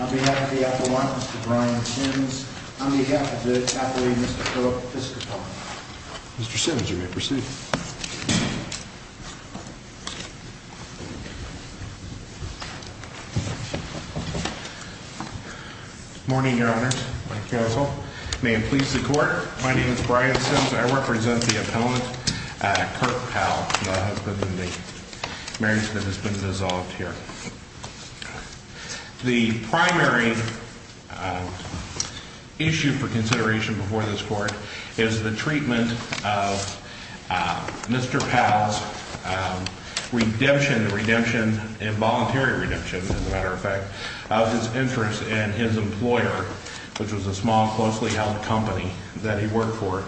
on behalf of the appellant, Mr. Brian Sims, on behalf of the appellate, Mr. Kirk Piscopone. Mr. Sims, you may proceed. Morning, Your Honors, my counsel. May it please the court, my name is Brian Sims, I represent the appellant, Kirk Powell, the husband in the marriage that has been dissolved here. The primary issue for consideration before this court is the treatment of Mr. Powell's redemption, redemption, involuntary redemption, as a matter of fact, of his interest in his employer, which was a small, closely held company that he worked for.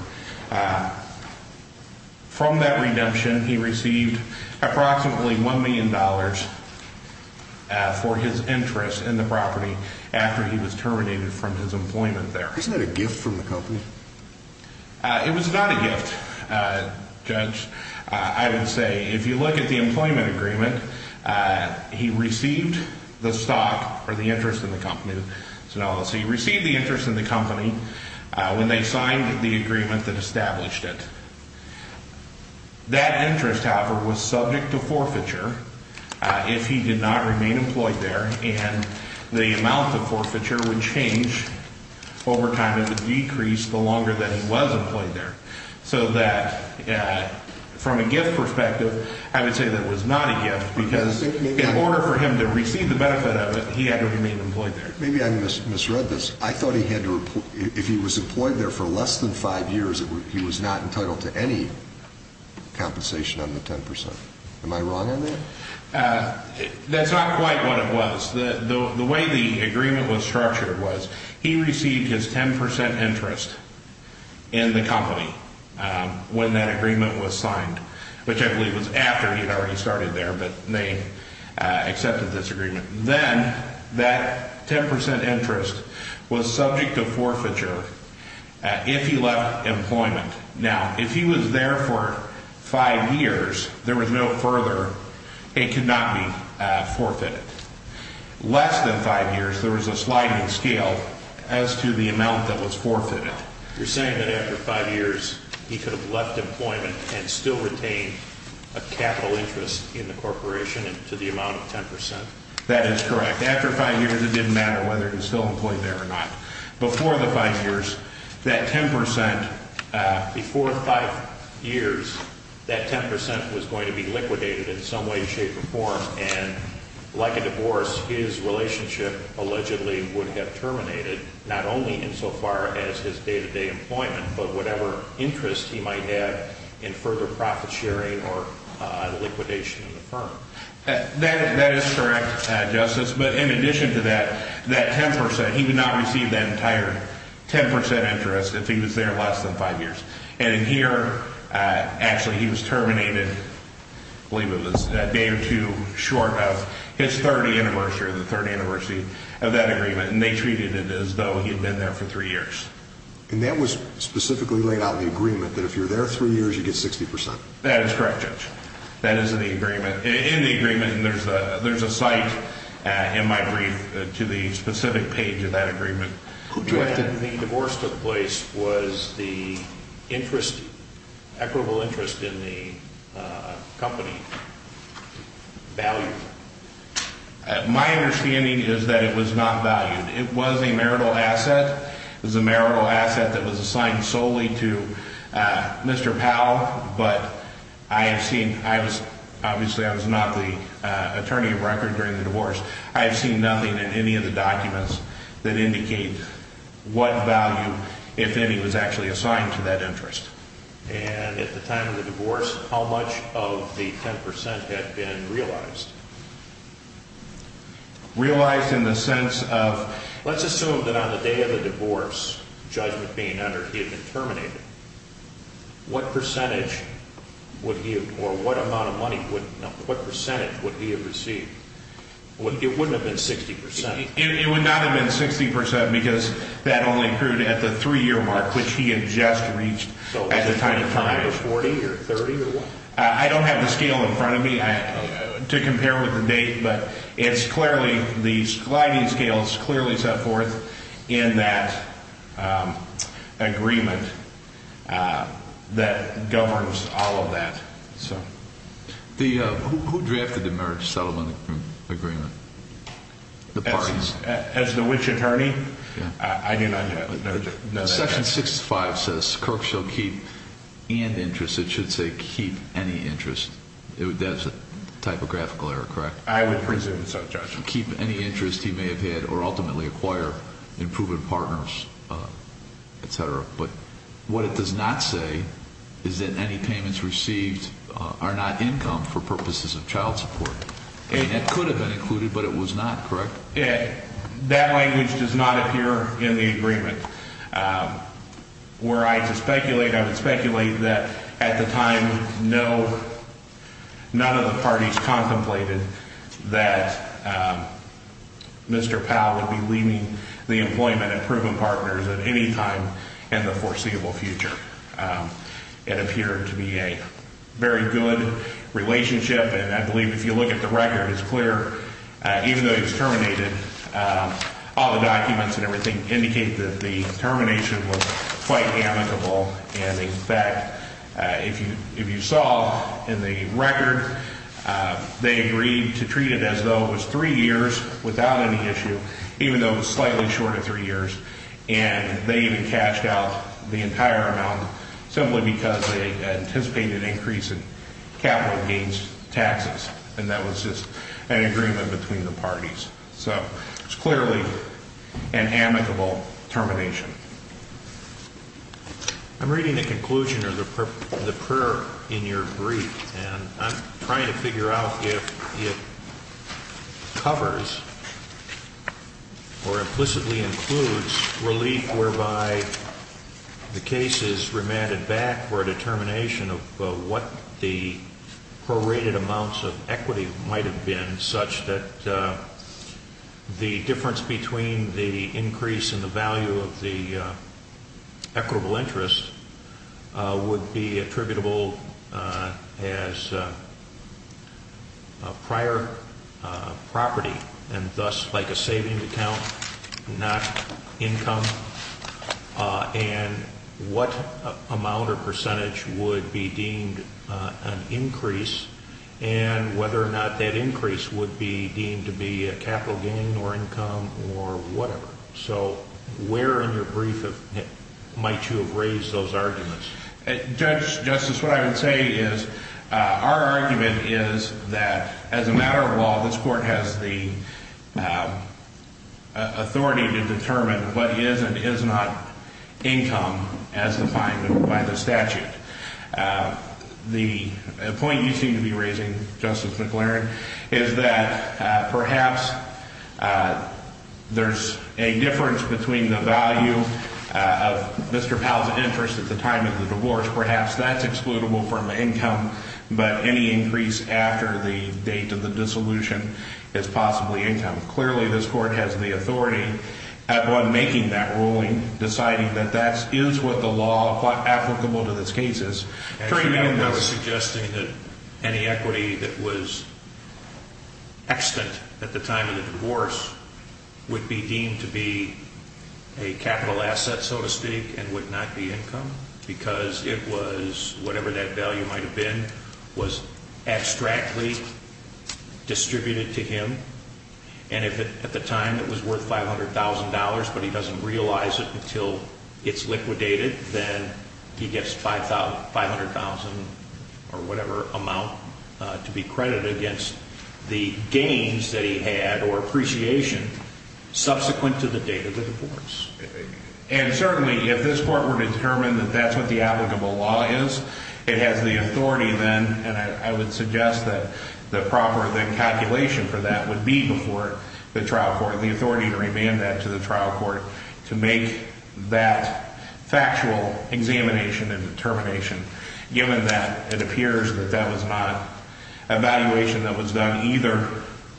From that redemption, he received approximately $1 million for his interest in the property after he was terminated from his employment there. Isn't that a gift from the company? It was not a gift, Judge. I would say, if you look at the employment agreement, he received the stock, or the interest in the company, when they signed the agreement that established it. That interest, however, was subject to forfeiture if he did not remain employed there, and the amount of forfeiture would change over time, it would decrease the longer that he was employed there. So that, from a gift perspective, I would say that it was not a gift, because in order for him to receive the benefit of it, he had to remain employed there. Maybe I misread this. I thought he had to, if he was employed there for less than five years, he was not entitled to any compensation under 10%. Am I wrong on that? That's not quite what it was. The way the agreement was structured was, he received his 10% interest in the company when that agreement was signed, which I believe was after he had already started there, but they accepted this agreement. Then that 10% interest was subject to forfeiture if he left employment. Now, if he was there for five years, there was no further, it could not be forfeited. Less than five years, there was a sliding scale as to the amount that was forfeited. You're saying that after five years, he could have left employment and still retained a capital interest in the corporation to the amount of 10%? That is correct. After five years, it didn't matter whether he was still employed there or not. Before the five years, that 10%, before five years, that 10% was going to be liquidated in some way, shape, or form, and like a divorce, his relationship allegedly would have terminated, not only insofar as his day-to-day employment, but whatever interest he might have in further profit sharing or liquidation of the firm. That is correct, Justice, but in addition to that, that 10%, he would not receive that entire 10% interest if he was there less than five years. And here, actually, he was terminated, I believe it was a day or two short of his 30th anniversary, the third anniversary of that agreement, and they treated it as though he had been there for three years. And that was specifically laid out in the agreement that if you're there three years, you get 60%? That is correct, Judge. That is in the agreement. In the agreement, there's a site in my brief to the specific page of that agreement. When the divorce took place, was the interest, equitable interest in the company, valued? My understanding is that it was not valued. It was a marital asset. It was a marital asset that was assigned solely to Mr. Powell, but I have seen, obviously I was not the attorney of record during the divorce, I have seen nothing in any of the documents that indicate what value, if any, was actually assigned to that interest. And at the time of the divorce, how much of the 10% had been realized? Realized in the sense of, let's assume that on the day of the divorce, judgment being entered, he had been terminated. What percentage would he, or what amount of money, what percentage would he have received? It wouldn't have been 60%. It would not have been 60% because that only occurred at the three-year mark, which he had just reached at the time of time. So was it 20 or 40 or 30 or what? I don't have the scale in front of me to compare with the date, but it's clearly, the sliding scales clearly set forth in that agreement that governs all of that. Who drafted the marriage settlement agreement? The parties? As the which attorney? I do not know that answer. Section 65 says Kirk shall keep and interest. It should say keep any interest. That's a typographical error, correct? I would presume so, Judge. Keep any interest he may have had or ultimately acquire in proven partners, et cetera. But what it does not say is that any payments received are not income for purposes of child support. It could have been included, but it was not, correct? That language does not appear in the agreement. Where I would speculate, I would speculate that at the time, none of the parties contemplated that Mr. Powell would be leaving the employment and proven partners at any time in the foreseeable future. It appeared to be a very good relationship. And I believe if you look at the record, it's clear even though he was terminated, all the documents and everything indicate that the termination was quite amicable. And, in fact, if you saw in the record, they agreed to treat it as though it was three years without any issue, even though it was slightly shorter three years. And they even cashed out the entire amount simply because they anticipated an increase in capital gains taxes. And that was just an agreement between the parties. So it's clearly an amicable termination. I'm reading the conclusion of the prayer in your brief, and I'm trying to figure out if it covers or implicitly includes relief whereby the case is remanded back for a determination of what the prorated amounts of equity might have been, such that the difference between the increase in the value of the equitable interest would be attributable as prior property, and thus like a savings account, not income, and what amount or percentage would be deemed an increase, and whether or not that increase would be deemed to be a capital gain or income or whatever. So where in your brief might you have raised those arguments? Judge, Justice, what I would say is our argument is that as a matter of law, this Court has the authority to determine what is and is not income as defined by the statute. The point you seem to be raising, Justice McLaren, is that perhaps there's a difference between the value of Mr. Powell's interest at the time of the divorce. Perhaps that's excludable from income, but any increase after the date of the dissolution is possibly income. Clearly, this Court has the authority upon making that ruling, deciding that that is what the law applicable to this case is. I was suggesting that any equity that was extant at the time of the divorce would be deemed to be a capital asset, so to speak, and would not be income because it was, whatever that value might have been, was abstractly distributed to him, and if at the time it was worth $500,000 but he doesn't realize it until it's liquidated, then he gets $500,000 or whatever amount to be credited against the gains that he had or appreciation subsequent to the date of the divorce. And certainly, if this Court were to determine that that's what the applicable law is, it has the authority then, and I would suggest that the proper calculation for that would be before the trial court, the authority to remand that to the trial court to make that factual examination and determination, given that it appears that that was not a valuation that was done either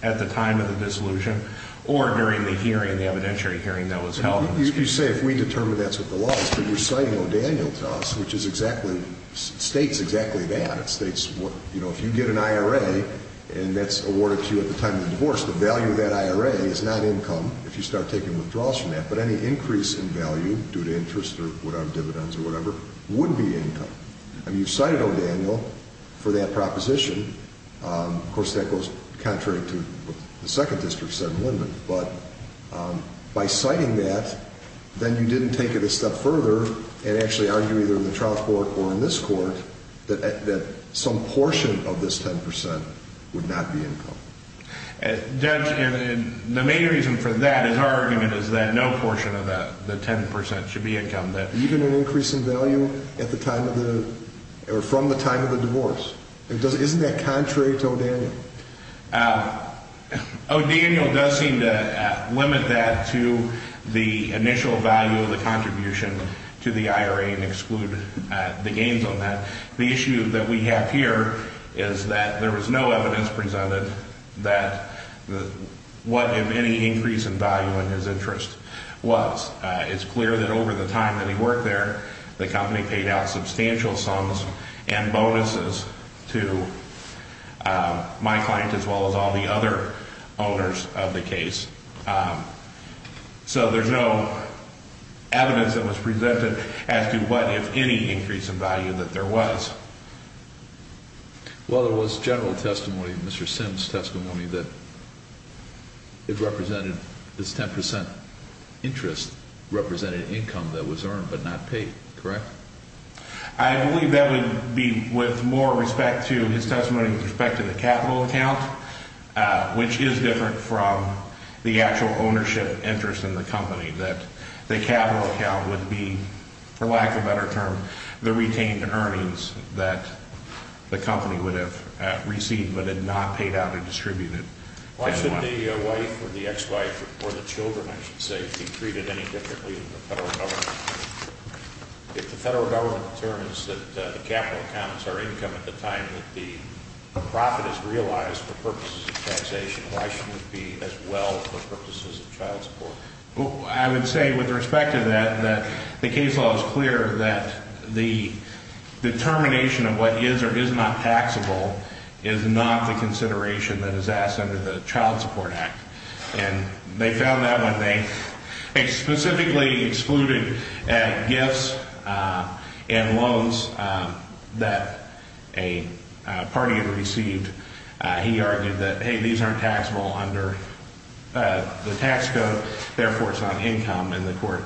at the time of the dissolution or during the hearing, the evidentiary hearing that was held. You say if we determine that's what the law is, but you're citing O'Daniel to us, which is exactly, states exactly that. It states, you know, if you get an IRA and that's awarded to you at the time of the divorce, the value of that IRA is not income if you start taking withdrawals from that, but any increase in value due to interest or whatever, dividends or whatever, would be income. I mean, you've cited O'Daniel for that proposition. Of course, that goes contrary to what the Second District said in Linden. But by citing that, then you didn't take it a step further and actually argue either in the trial court or in this Court that some portion of this 10 percent would not be income. Judge, the main reason for that is our argument is that no portion of that, the 10 percent, should be income. Even an increase in value at the time of the, or from the time of the divorce? Isn't that contrary to O'Daniel? O'Daniel does seem to limit that to the initial value of the contribution to the IRA and exclude the gains on that. The issue that we have here is that there was no evidence presented that what if any increase in value in his interest was. It's clear that over the time that he worked there, the company paid out substantial sums and bonuses to my client as well as all the other owners of the case. So there's no evidence that was presented as to what if any increase in value that there was. Well, there was general testimony, Mr. Sims' testimony, that it represented, this 10 percent interest represented income that was earned but not paid, correct? I believe that would be with more respect to his testimony with respect to the capital account, which is different from the actual ownership interest in the company. That the capital account would be, for lack of a better term, the retained earnings that the company would have received but had not paid out or distributed. Why shouldn't the wife or the ex-wife or the children, I should say, be treated any differently in the federal government? If the federal government determines that the capital accounts are income at the time that the profit is realized for purposes of taxation, why shouldn't it be as well for purposes of child support? Well, I would say with respect to that, that the case law is clear that the determination of what is or is not taxable is not the consideration that is asked under the Child Support Act. And they found that when they specifically excluded gifts and loans that a party had received, he argued that, hey, these aren't taxable under the tax code, therefore it's not income. And the court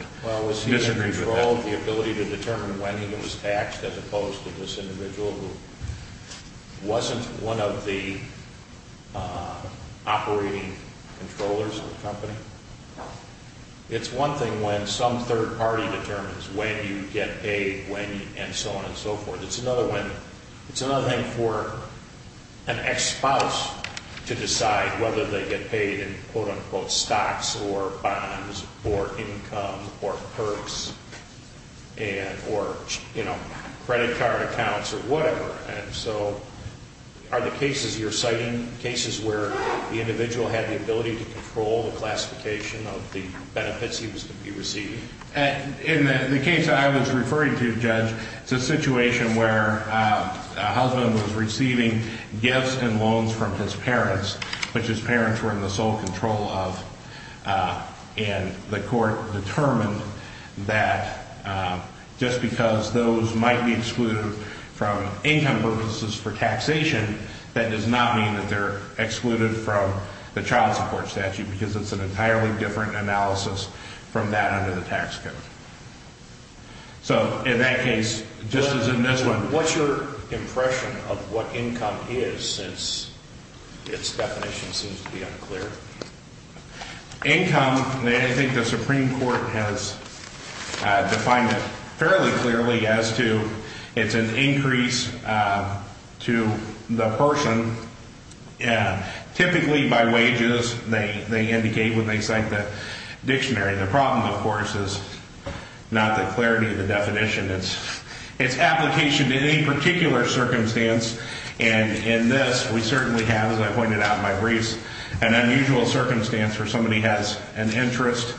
disagrees with that. Well, was he in control of the ability to determine when he was taxed as opposed to this individual who wasn't one of the operating controllers of the company? No. It's one thing when some third party determines when you get paid, when you, and so on and so forth. But it's another one, it's another thing for an ex-spouse to decide whether they get paid in quote-unquote stocks or bonds or income or perks and or, you know, credit card accounts or whatever. And so are the cases you're citing cases where the individual had the ability to control the classification of the benefits he was to be receiving? In the case I was referring to, Judge, it's a situation where a husband was receiving gifts and loans from his parents, which his parents were in the sole control of. And the court determined that just because those might be excluded from income purposes for taxation, that does not mean that they're excluded from the child support statute because it's an entirely different analysis from that under the tax code. So in that case, just as in this one. What's your impression of what income is since its definition seems to be unclear? Income, I think the Supreme Court has defined it fairly clearly as to, it's an increase to the person typically by wages. They indicate when they cite the dictionary. The problem, of course, is not the clarity of the definition. It's application to any particular circumstance. And in this, we certainly have, as I pointed out in my briefs, an unusual circumstance where somebody has an interest.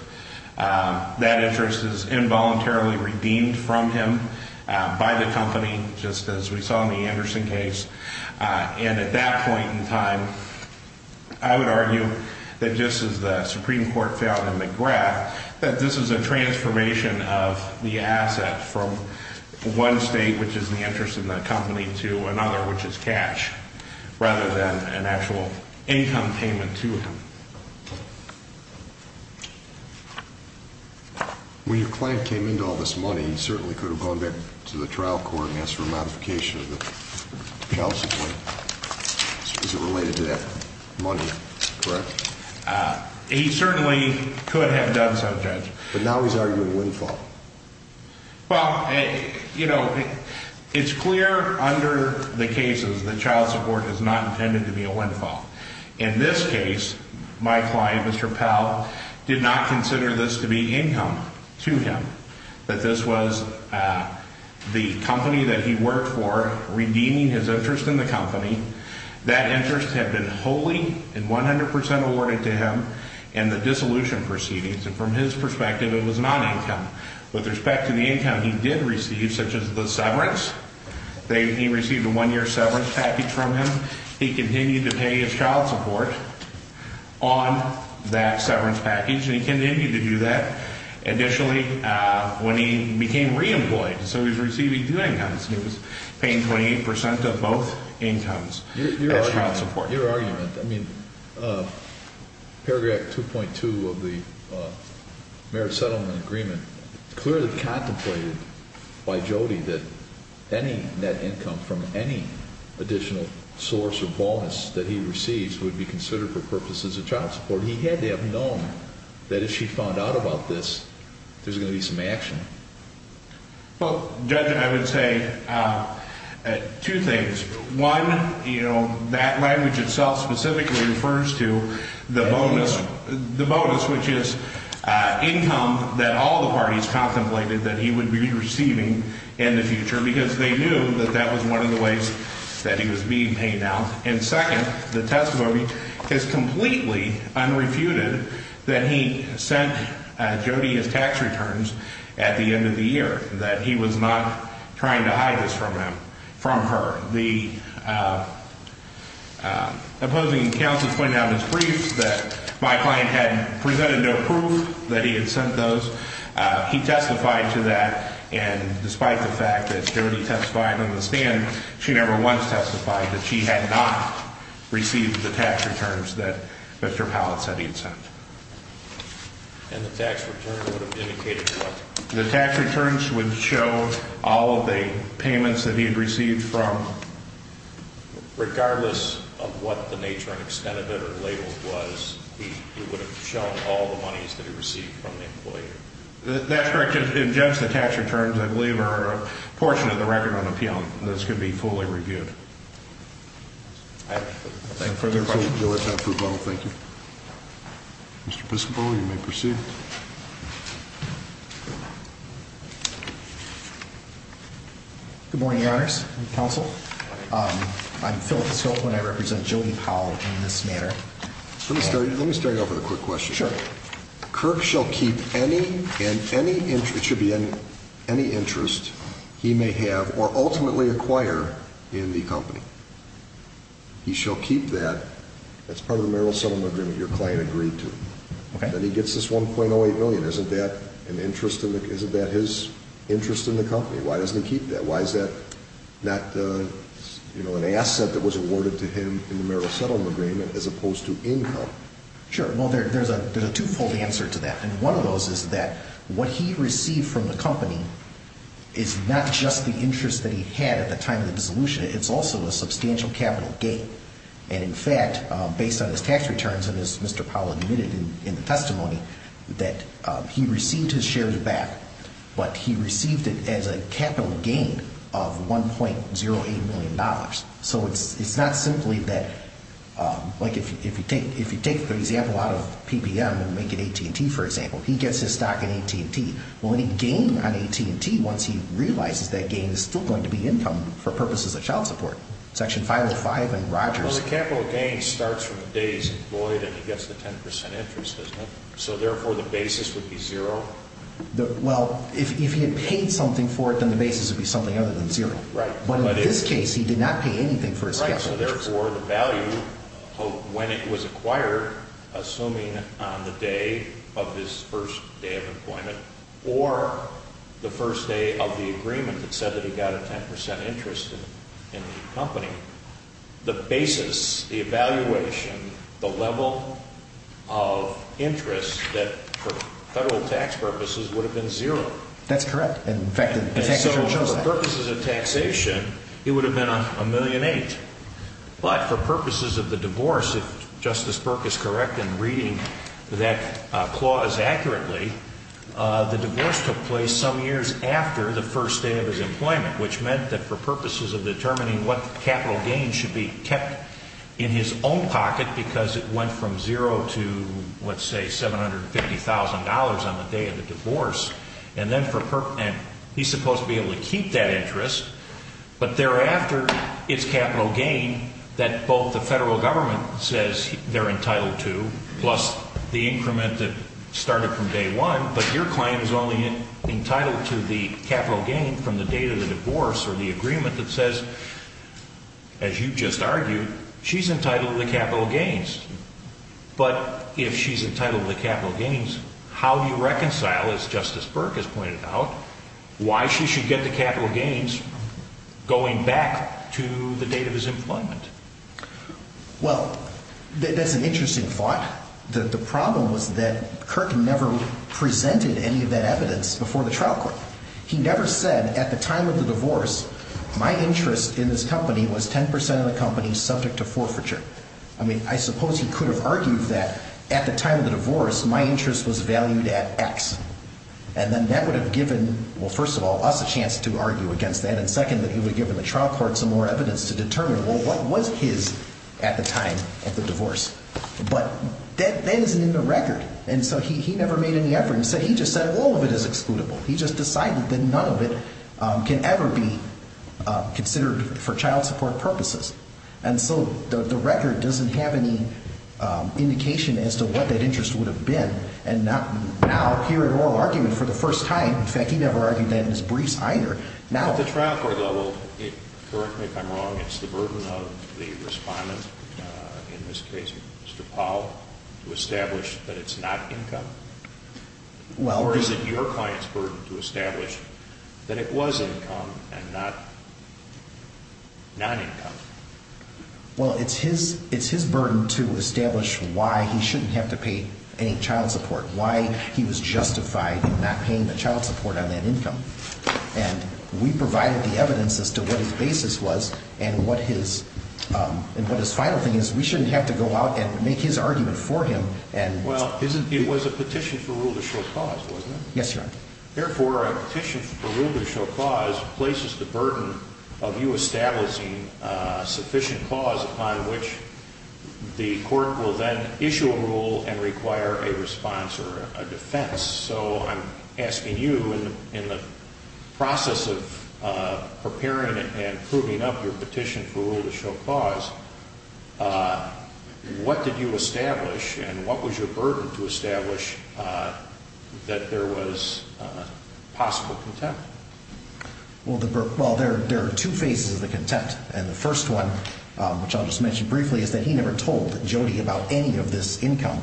That interest is involuntarily redeemed from him by the company, just as we saw in the Anderson case. And at that point in time, I would argue that just as the Supreme Court found in the graph, that this is a transformation of the asset from one state, which is the interest of the company, to another, which is cash, rather than an actual income payment to him. When your client came into all this money, he certainly could have gone back to the trial court and asked for a modification of the child support. Is it related to that money, correct? He certainly could have done so, Judge. But now he's arguing a windfall. Well, you know, it's clear under the cases that child support is not intended to be a windfall. In this case, my client, Mr. Powell, did not consider this to be income to him. That this was the company that he worked for, redeeming his interest in the company. That interest had been wholly and 100% awarded to him in the dissolution proceedings. And from his perspective, it was not income. With respect to the income he did receive, such as the severance, he received a one-year severance package from him. He continued to pay his child support on that severance package. And he continued to do that initially when he became re-employed. So he was receiving two incomes, and he was paying 28% of both incomes as child support. Your argument, I mean, paragraph 2.2 of the Merit Settlement Agreement, it's clearly contemplated by Jody that any net income from any additional source or bonus that he receives would be considered for purposes of child support. He had to have known that if she found out about this, there was going to be some action. Well, Judge, I would say two things. One, you know, that language itself specifically refers to the bonus, which is income that all the parties contemplated that he would be receiving in the future because they knew that that was one of the ways that he was being paid out. And second, the testimony is completely unrefuted that he sent Jody his tax returns at the end of the year, that he was not trying to hide this from her. The opposing counsel pointed out in his briefs that my client had presented no proof that he had sent those. He testified to that, and despite the fact that Jody testified on the stand, she never once testified that she had not received the tax returns that Mr. Powlett said he had sent. And the tax returns would have indicated what? The tax returns would show all of the payments that he had received from? Regardless of what the nature and extent of it are labeled was, it would have shown all the monies that he received from the employer. That's correct. In just the tax returns, I believe, are a portion of the record on appeal. Those could be fully reviewed. I have no further questions. No further questions. Thank you. Mr. Piscopo, you may proceed. Good morning, Your Honors and counsel. I'm Phillip Piscopo, and I represent Jody Powell in this matter. Let me start you off with a quick question. Sure. Kirk shall keep any and any interest, it should be any interest, he may have or ultimately acquire in the company. He shall keep that. That's part of the merrill settlement agreement your client agreed to. Okay. And he gets this $1.08 million. Isn't that his interest in the company? Why doesn't he keep that? Why is that not an asset that was awarded to him in the merrill settlement agreement as opposed to income? Sure. Well, there's a two-fold answer to that, and one of those is that what he received from the company is not just the interest that he had at the time of the dissolution. It's also a substantial capital gain. And, in fact, based on his tax returns, and as Mr. Powell admitted in the testimony, that he received his shares back, but he received it as a capital gain of $1.08 million. So it's not simply that, like, if you take the example out of PBM and make it AT&T, for example, he gets his stock in AT&T. Well, any gain on AT&T, once he realizes that gain, is still going to be income for purposes of child support. Section 505 and Rogers. Well, the capital gain starts from the days employed, and he gets the 10% interest, doesn't it? So, therefore, the basis would be zero? Well, if he had paid something for it, then the basis would be something other than zero. Right. But in this case, he did not pay anything for his capital gains. Right. So, therefore, the value, when it was acquired, assuming on the day of his first day of employment, or the first day of the agreement that said that he got a 10% interest in the company, the basis, the evaluation, the level of interest that, for federal tax purposes, would have been zero. That's correct. And, in fact, the tax returns show that. And so, for purposes of taxation, it would have been $1.08 million. But, for purposes of the divorce, if Justice Burke is correct in reading that clause accurately, the divorce took place some years after the first day of his employment, which meant that for purposes of determining what capital gains should be kept in his own pocket, because it went from zero to, let's say, $750,000 on the day of the divorce, and he's supposed to be able to keep that interest. But, thereafter, it's capital gain that both the federal government says they're entitled to, plus the increment that started from day one. But your client is only entitled to the capital gain from the date of the divorce, or the agreement that says, as you just argued, she's entitled to the capital gains. But, if she's entitled to the capital gains, how do you reconcile, as Justice Burke has pointed out, why she should get the capital gains going back to the date of his employment? Well, that's an interesting thought. The problem was that Kirk never presented any of that evidence before the trial court. He never said, at the time of the divorce, my interest in this company was 10% of the company subject to forfeiture. I mean, I suppose he could have argued that, at the time of the divorce, my interest was valued at X. And then that would have given, well, first of all, us a chance to argue against that, and second, that he would have given the trial court some more evidence to determine, well, what was his, at the time of the divorce? But that isn't in the record, and so he never made any effort. Instead, he just said, well, all of it is excludable. He just decided that none of it can ever be considered for child support purposes. And so the record doesn't have any indication as to what that interest would have been. And now, here in oral argument, for the first time, in fact, he never argued that in his briefs either. At the trial court level, correct me if I'm wrong, it's the burden of the respondent, in this case Mr. Powell, to establish that it's not income? Or is it your client's burden to establish that it was income and not non-income? Well, it's his burden to establish why he shouldn't have to pay any child support, why he was justified in not paying the child support on that income. And we provided the evidence as to what his basis was and what his final thing is. We shouldn't have to go out and make his argument for him. Well, it was a petition for rule to show cause, wasn't it? Yes, Your Honor. Therefore, a petition for rule to show cause places the burden of you establishing sufficient cause upon which the court will then issue a rule and require a response or a defense. So I'm asking you, in the process of preparing and proving up your petition for rule to show cause, what did you establish and what was your burden to establish that there was possible contempt? Well, there are two phases of the contempt. And the first one, which I'll just mention briefly, is that he never told Jody about any of this income.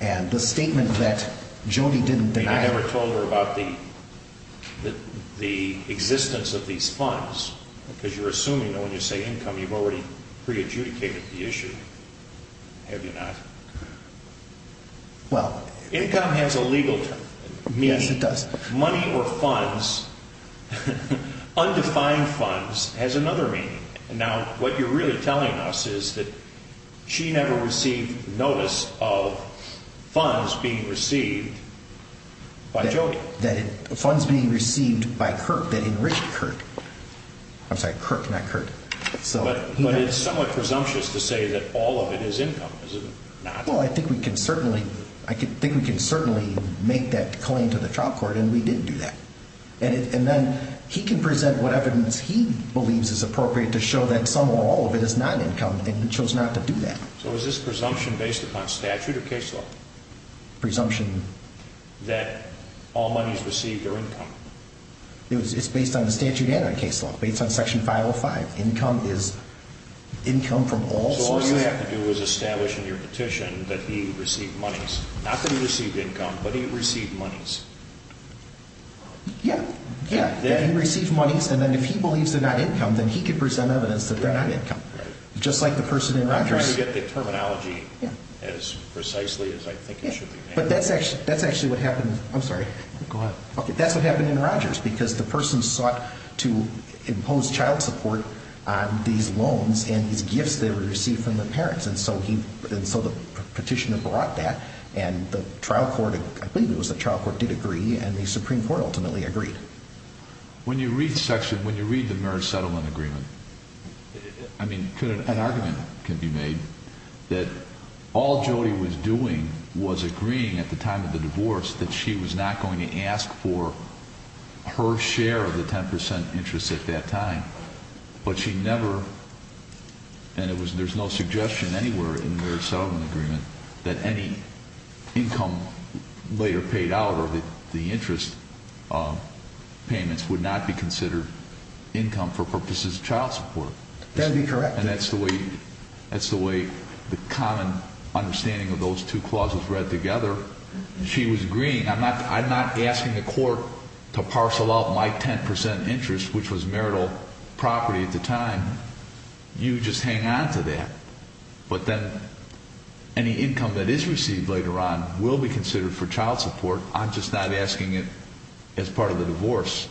And the statement that Jody didn't deny... You never told her about the existence of these funds, because you're assuming that when you say income, you've already pre-adjudicated the issue, have you not? Well... Income has a legal meaning. Yes, it does. Money or funds, undefined funds, has another meaning. Now, what you're really telling us is that she never received notice of funds being received by Jody. Funds being received by Kirk that enriched Kirk. I'm sorry, Kirk, not Kirk. But it's somewhat presumptuous to say that all of it is income, is it not? Well, I think we can certainly make that claim to the trial court, and we did do that. And then he can present what evidence he believes is appropriate to show that some or all of it is not income, and he chose not to do that. So is this presumption based upon statute or case law? Presumption. That all monies received are income. It's based on the statute and on case law, based on Section 505. Income is income from all sources. So all you have to do is establish in your petition that he received monies. Not that he received income, but he received monies. Yeah, yeah. That he received monies, and then if he believes they're not income, then he can present evidence that they're not income. Just like the person in Rogers. I'm trying to get the terminology as precisely as I think it should be. But that's actually what happened. I'm sorry. Go ahead. Okay, that's what happened in Rogers because the person sought to impose child support on these loans and these gifts they received from the parents. And so the petitioner brought that, and the trial court, I believe it was the trial court, did agree, and the Supreme Court ultimately agreed. When you read the Merit Settlement Agreement, I mean, an argument could be made that all Jody was doing was agreeing at the time of the divorce that she was not going to ask for her share of the 10% interest at that time. But she never, and there's no suggestion anywhere in the Merit Settlement Agreement, that any income later paid out or the interest payments would not be considered income for purposes of child support. That would be correct. And that's the way the common understanding of those two clauses read together. She was agreeing. I'm not asking the court to parcel out my 10% interest, which was marital property at the time. You just hang on to that. But then any income that is received later on will be considered for child support. I'm just not asking it as part of the divorce.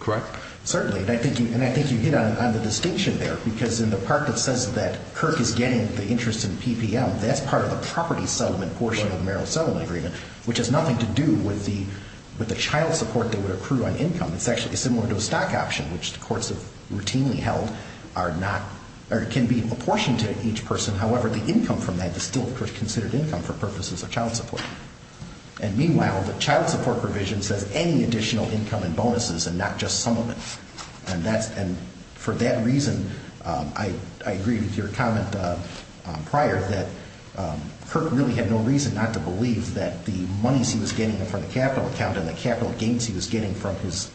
Correct? Certainly. And I think you hit on the distinction there because in the part that says that Kirk is getting the interest in PPM, that's part of the property settlement portion of the Merit Settlement Agreement, which has nothing to do with the child support they would accrue on income. It's actually similar to a stock option, which the courts have routinely held, are not, or can be apportioned to each person. However, the income from that is still considered income for purposes of child support. And meanwhile, the child support provision says any additional income and bonuses and not just some of it. And for that reason, I agreed with your comment prior that Kirk really had no reason not to believe that the monies he was getting from the capital account and the capital gains he was getting from his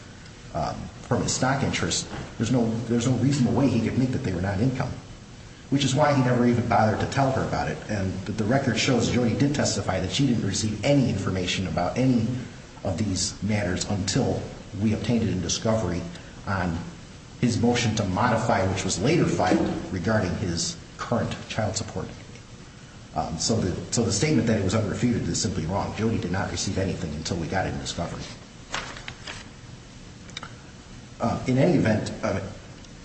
stock interest, there's no reasonable way he could make that they were not income, which is why he never even bothered to tell her about it. And the record shows that Jody did testify that she didn't receive any information about any of these matters until we obtained it in discovery on his motion to modify, which was later filed, regarding his current child support. So the statement that it was unrefuted is simply wrong. Jody did not receive anything until we got it in discovery. In any event,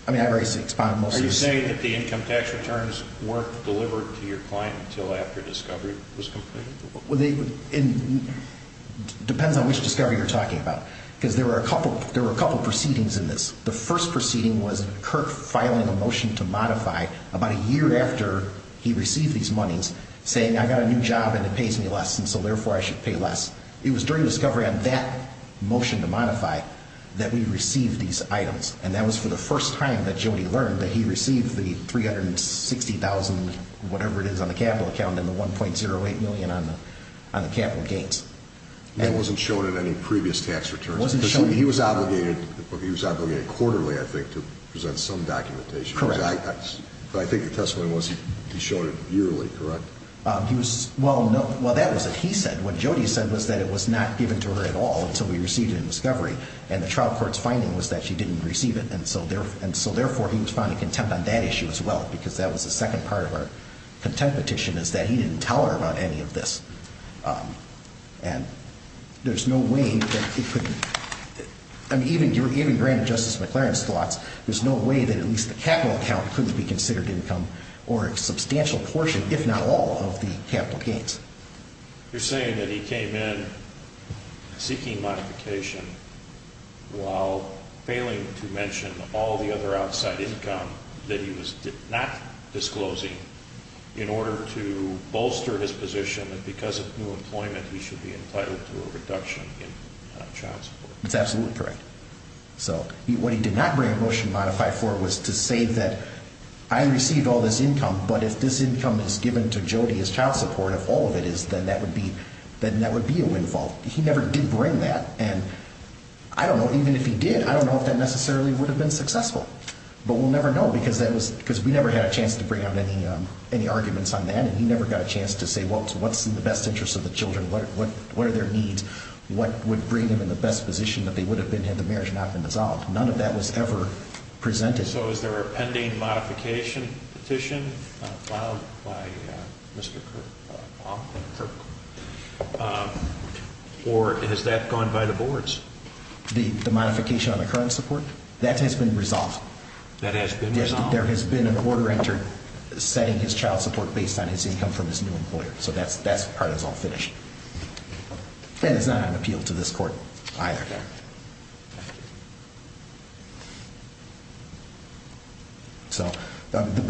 I mean, I raised the expoundable. Are you saying that the income tax returns weren't delivered to your client until after discovery was completed? It depends on which discovery you're talking about. Because there were a couple proceedings in this. The first proceeding was Kirk filing a motion to modify about a year after he received these monies, saying I got a new job and it pays me less, and so therefore I should pay less. It was during discovery on that motion to modify that we received these items. And that was for the first time that Jody learned that he received the $360,000, whatever it is on the capital account, and the $1.08 million on the capital gains. That wasn't shown in any previous tax returns? It wasn't shown. He was obligated quarterly, I think, to present some documentation. Correct. But I think the testimony was he showed it yearly, correct? Well, that was what he said. What Jody said was that it was not given to her at all until we received it in discovery. And the trial court's finding was that she didn't receive it, and so therefore he was found to contend on that issue as well because that was the second part of our contend petition is that he didn't tell her about any of this. And there's no way that it could be. I mean, even granted Justice McLaren's thoughts, there's no way that at least the capital account couldn't be considered income or a substantial portion, if not all, of the capital gains. You're saying that he came in seeking modification while failing to mention all the other outside income that he was not disclosing in order to bolster his position that because of new employment he should be entitled to a reduction in child support. That's absolutely correct. So what he did not bring a motion to modify for was to say that I received all this income, but if this income is given to Jody as child support, if all of it is, then that would be a windfall. He never did bring that, and I don't know. Even if he did, I don't know if that necessarily would have been successful. But we'll never know because we never had a chance to bring out any arguments on that, and he never got a chance to say, well, what's in the best interest of the children? What are their needs? What would bring them in the best position that they would have been had the marriage not been dissolved? None of that was ever presented. So is there a pending modification petition filed by Mr. Kirk? Or has that gone by the boards? The modification on the current support? That has been resolved. That has been resolved? There has been an order entered setting his child support based on his income from his new employer. So that part is all finished. And it's not on appeal to this court either. So the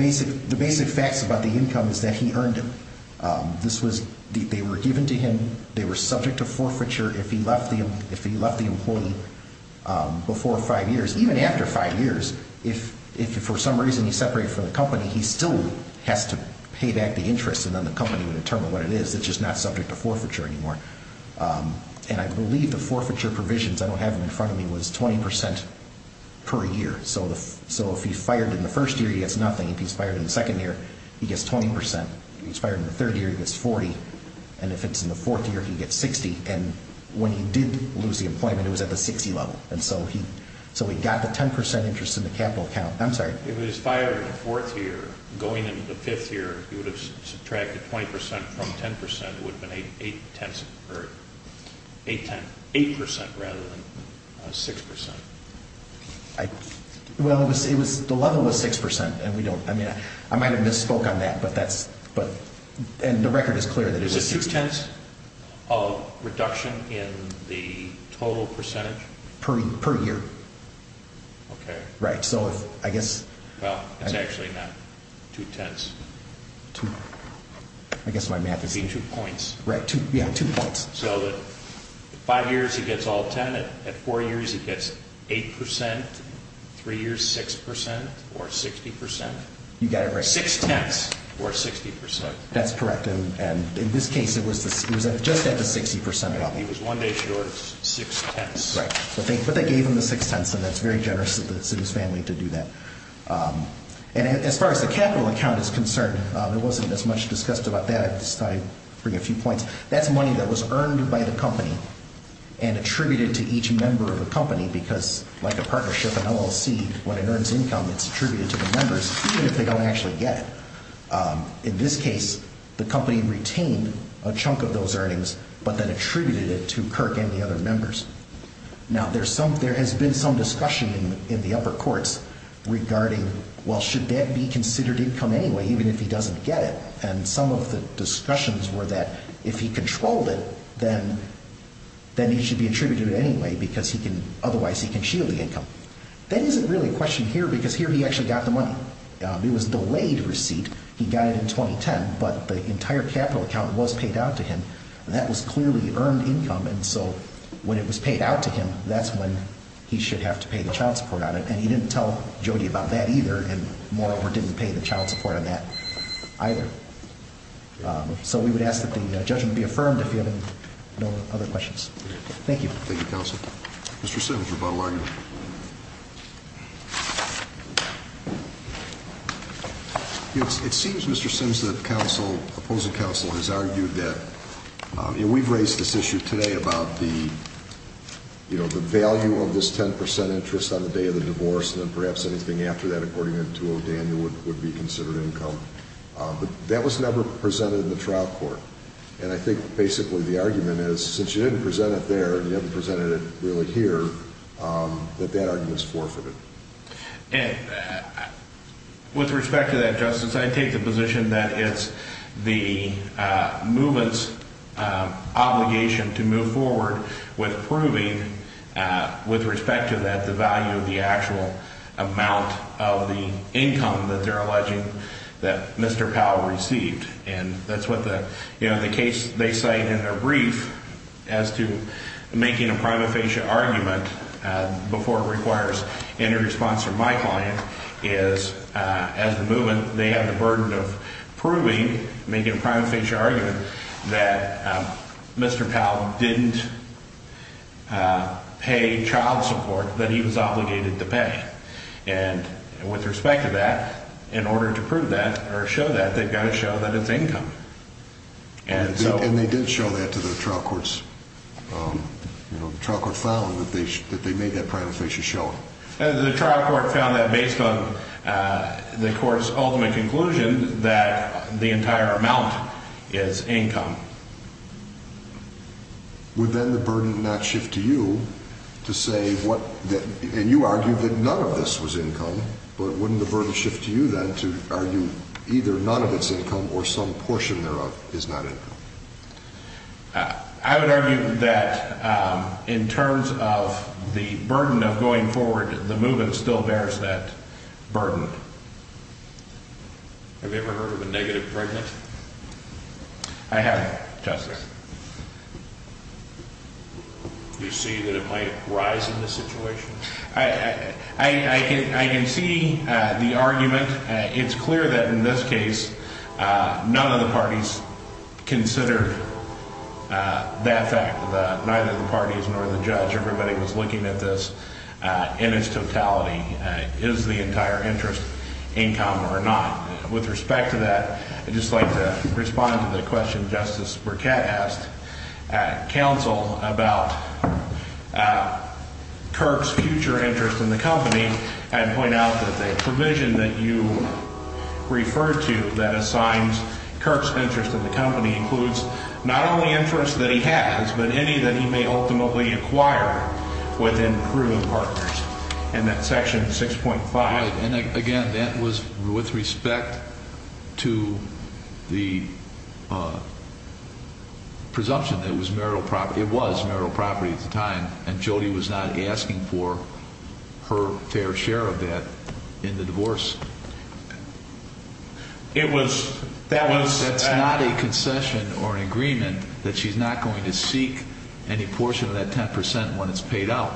basic facts about the income is that he earned it. They were given to him. They were subject to forfeiture if he left the employee before five years. Even after five years, if for some reason he separated from the company, he still has to pay back the interest, and then the company would determine what it is. It's just not subject to forfeiture anymore. And I believe the forfeiture provisions, I don't have them in front of me, was 20 percent per year. So if he fired in the first year, he gets nothing. If he's fired in the second year, he gets 20 percent. If he's fired in the third year, he gets 40. And if it's in the fourth year, he gets 60. And when he did lose the employment, it was at the 60 level. And so he got the 10 percent interest in the capital account. I'm sorry. If he was fired in the fourth year, going into the fifth year, he would have subtracted 20 percent from 10 percent. It would have been 8 percent rather than 6 percent. Well, the level was 6 percent. I might have misspoke on that, and the record is clear that it was 6 percent. Is it two-tenths of reduction in the total percentage? Per year. Okay. Right. Well, it's actually not two-tenths. I guess my math is two points. Yeah, two points. So at five years, he gets all 10. At four years, he gets 8 percent. Three years, 6 percent or 60 percent. You got it right. Six-tenths or 60 percent. That's correct. And in this case, it was just at the 60 percent level. He was one day short six-tenths. Right. But they gave him the six-tenths, and that's very generous to his family to do that. And as far as the capital account is concerned, there wasn't as much discussed about that. I just thought I'd bring a few points. That's money that was earned by the company and attributed to each member of the company, because like a partnership, an LLC, when it earns income, it's attributed to the members, even if they don't actually get it. In this case, the company retained a chunk of those earnings but then attributed it to Kirk and the other members. Now, there has been some discussion in the upper courts regarding, well, should that be considered income anyway, even if he doesn't get it? And some of the discussions were that if he controlled it, then he should be attributed it anyway because otherwise he can shield the income. That isn't really a question here because here he actually got the money. It was a delayed receipt. He got it in 2010, but the entire capital account was paid out to him. That was clearly earned income. And so when it was paid out to him, that's when he should have to pay the child support on it. And he didn't tell Jody about that either and moreover didn't pay the child support on that either. So we would ask that the judgment be affirmed if you have no other questions. Thank you. Thank you, counsel. Mr. Sims, rebuttal argument. It seems, Mr. Sims, that the opposing counsel has argued that we've raised this issue today about the value of this 10 percent interest on the day of the divorce and then perhaps anything after that according to O'Daniel would be considered income. But that was never presented in the trial court. And I think basically the argument is since you didn't present it there and you haven't presented it really here, that that argument is forfeited. With respect to that, Justice, I take the position that it's the movement's obligation to move forward with proving, with respect to that, the value of the actual amount of the income that they're alleging that Mr. Powell received. And that's what the case they cite in their brief as to making a prima facie argument before it requires any response from my client is as the movement, they have the burden of proving, making a prima facie argument, that Mr. Powell didn't pay child support that he was obligated to pay. And with respect to that, in order to prove that or show that, they've got to show that it's income. And they did show that to the trial courts. The trial court found that they made that prima facie showing. The trial court found that based on the court's ultimate conclusion that the entire amount is income. Would then the burden not shift to you to say what, and you argued that none of this was income, but wouldn't the burden shift to you then to argue either none of it's income or some portion thereof is not income? I would argue that in terms of the burden of going forward, the movement still bears that burden. Have you ever heard of a negative pregnancy? I haven't, Justice. Do you see that it might rise in this situation? I can see the argument. It's clear that in this case, none of the parties considered that fact, that neither the parties nor the judge, everybody was looking at this in its totality, is the entire interest income or not. With respect to that, I'd just like to respond to the question Justice Burkett asked at counsel about Kirk's future interest in the company and point out that the provision that you referred to that assigns Kirk's interest in the company includes not only interest that he has, but any that he may ultimately acquire within proven partners, and that's Section 6.5. And again, that was with respect to the presumption that it was marital property at the time, and Jody was not asking for her fair share of that in the divorce. That's not a concession or an agreement that she's not going to seek any portion of that 10% when it's paid out.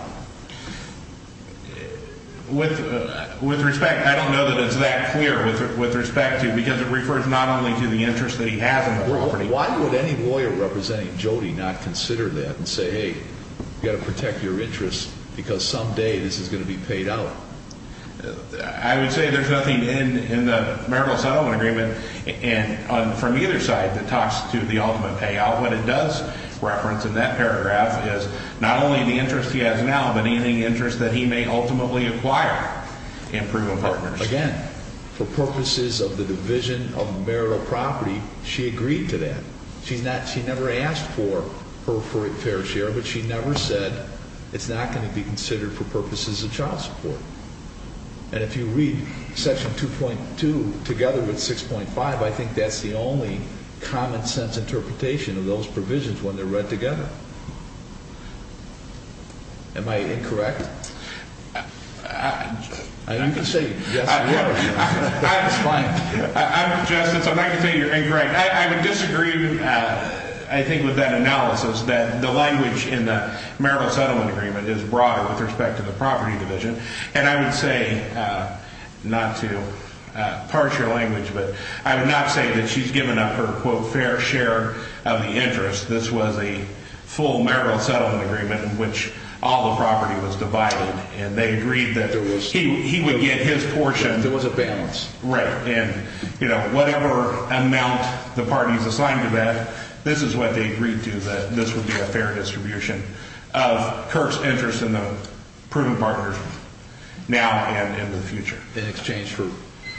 With respect, I don't know that it's that clear with respect to, because it refers not only to the interest that he has in the property. Why would any lawyer representing Jody not consider that and say, hey, you've got to protect your interests because someday this is going to be paid out? I would say there's nothing in the marital settlement agreement and from either side that talks to the ultimate payout. What it does reference in that paragraph is not only the interest he has now, but any interest that he may ultimately acquire in proven partners. Again, for purposes of the division of marital property, she agreed to that. She never asked for her fair share, but she never said it's not going to be considered for purposes of child support. And if you read section 2.2 together with 6.5, I think that's the only common sense interpretation of those provisions when they're read together. Am I incorrect? I'm going to say yes or no. It's fine. Justice, I'm not going to say you're incorrect. I would disagree, I think, with that analysis that the language in the marital settlement agreement is broader with respect to the property division. And I would say not to parse your language, but I would not say that she's given up her, quote, fair share of the interest. This was a full marital settlement agreement in which all the property was divided and they agreed that he would get his portion. There was a balance. Right. And, you know, whatever amount the parties assigned to that, this is what they agreed to, that this would be a fair distribution of Kirk's interest in the proven partners now and in the future. In exchange for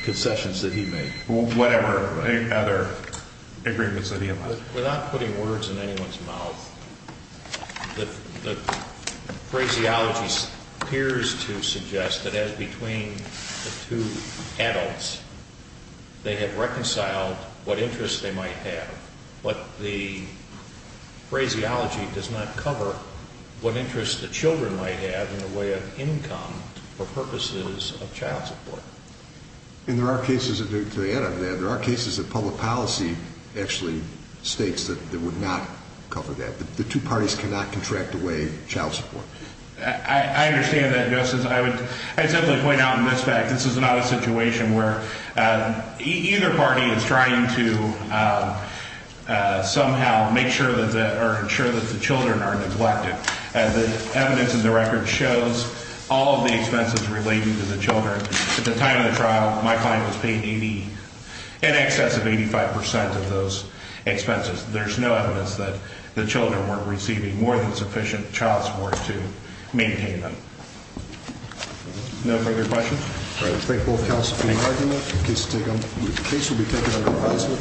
concessions that he made. Whatever other agreements that he allowed. Without putting words in anyone's mouth, the phraseology appears to suggest that as between the two adults, they have reconciled what interest they might have. But the phraseology does not cover what interest the children might have in the way of income for purposes of child support. And there are cases, to the end of that, there are cases that public policy actually states that it would not cover that. The two parties cannot contract away child support. I understand that, Justice. I would simply point out in this fact, this is not a situation where either party is trying to somehow make sure that or ensure that the children are neglected. And the evidence in the record shows all of the expenses relating to the children. At the time of the trial, my client was paid 80, in excess of 85 percent of those expenses. There's no evidence that the children were receiving more than sufficient child support to maintain them. No further questions? All right. Thank you both counsel for your argument. The case will be taken under advisory.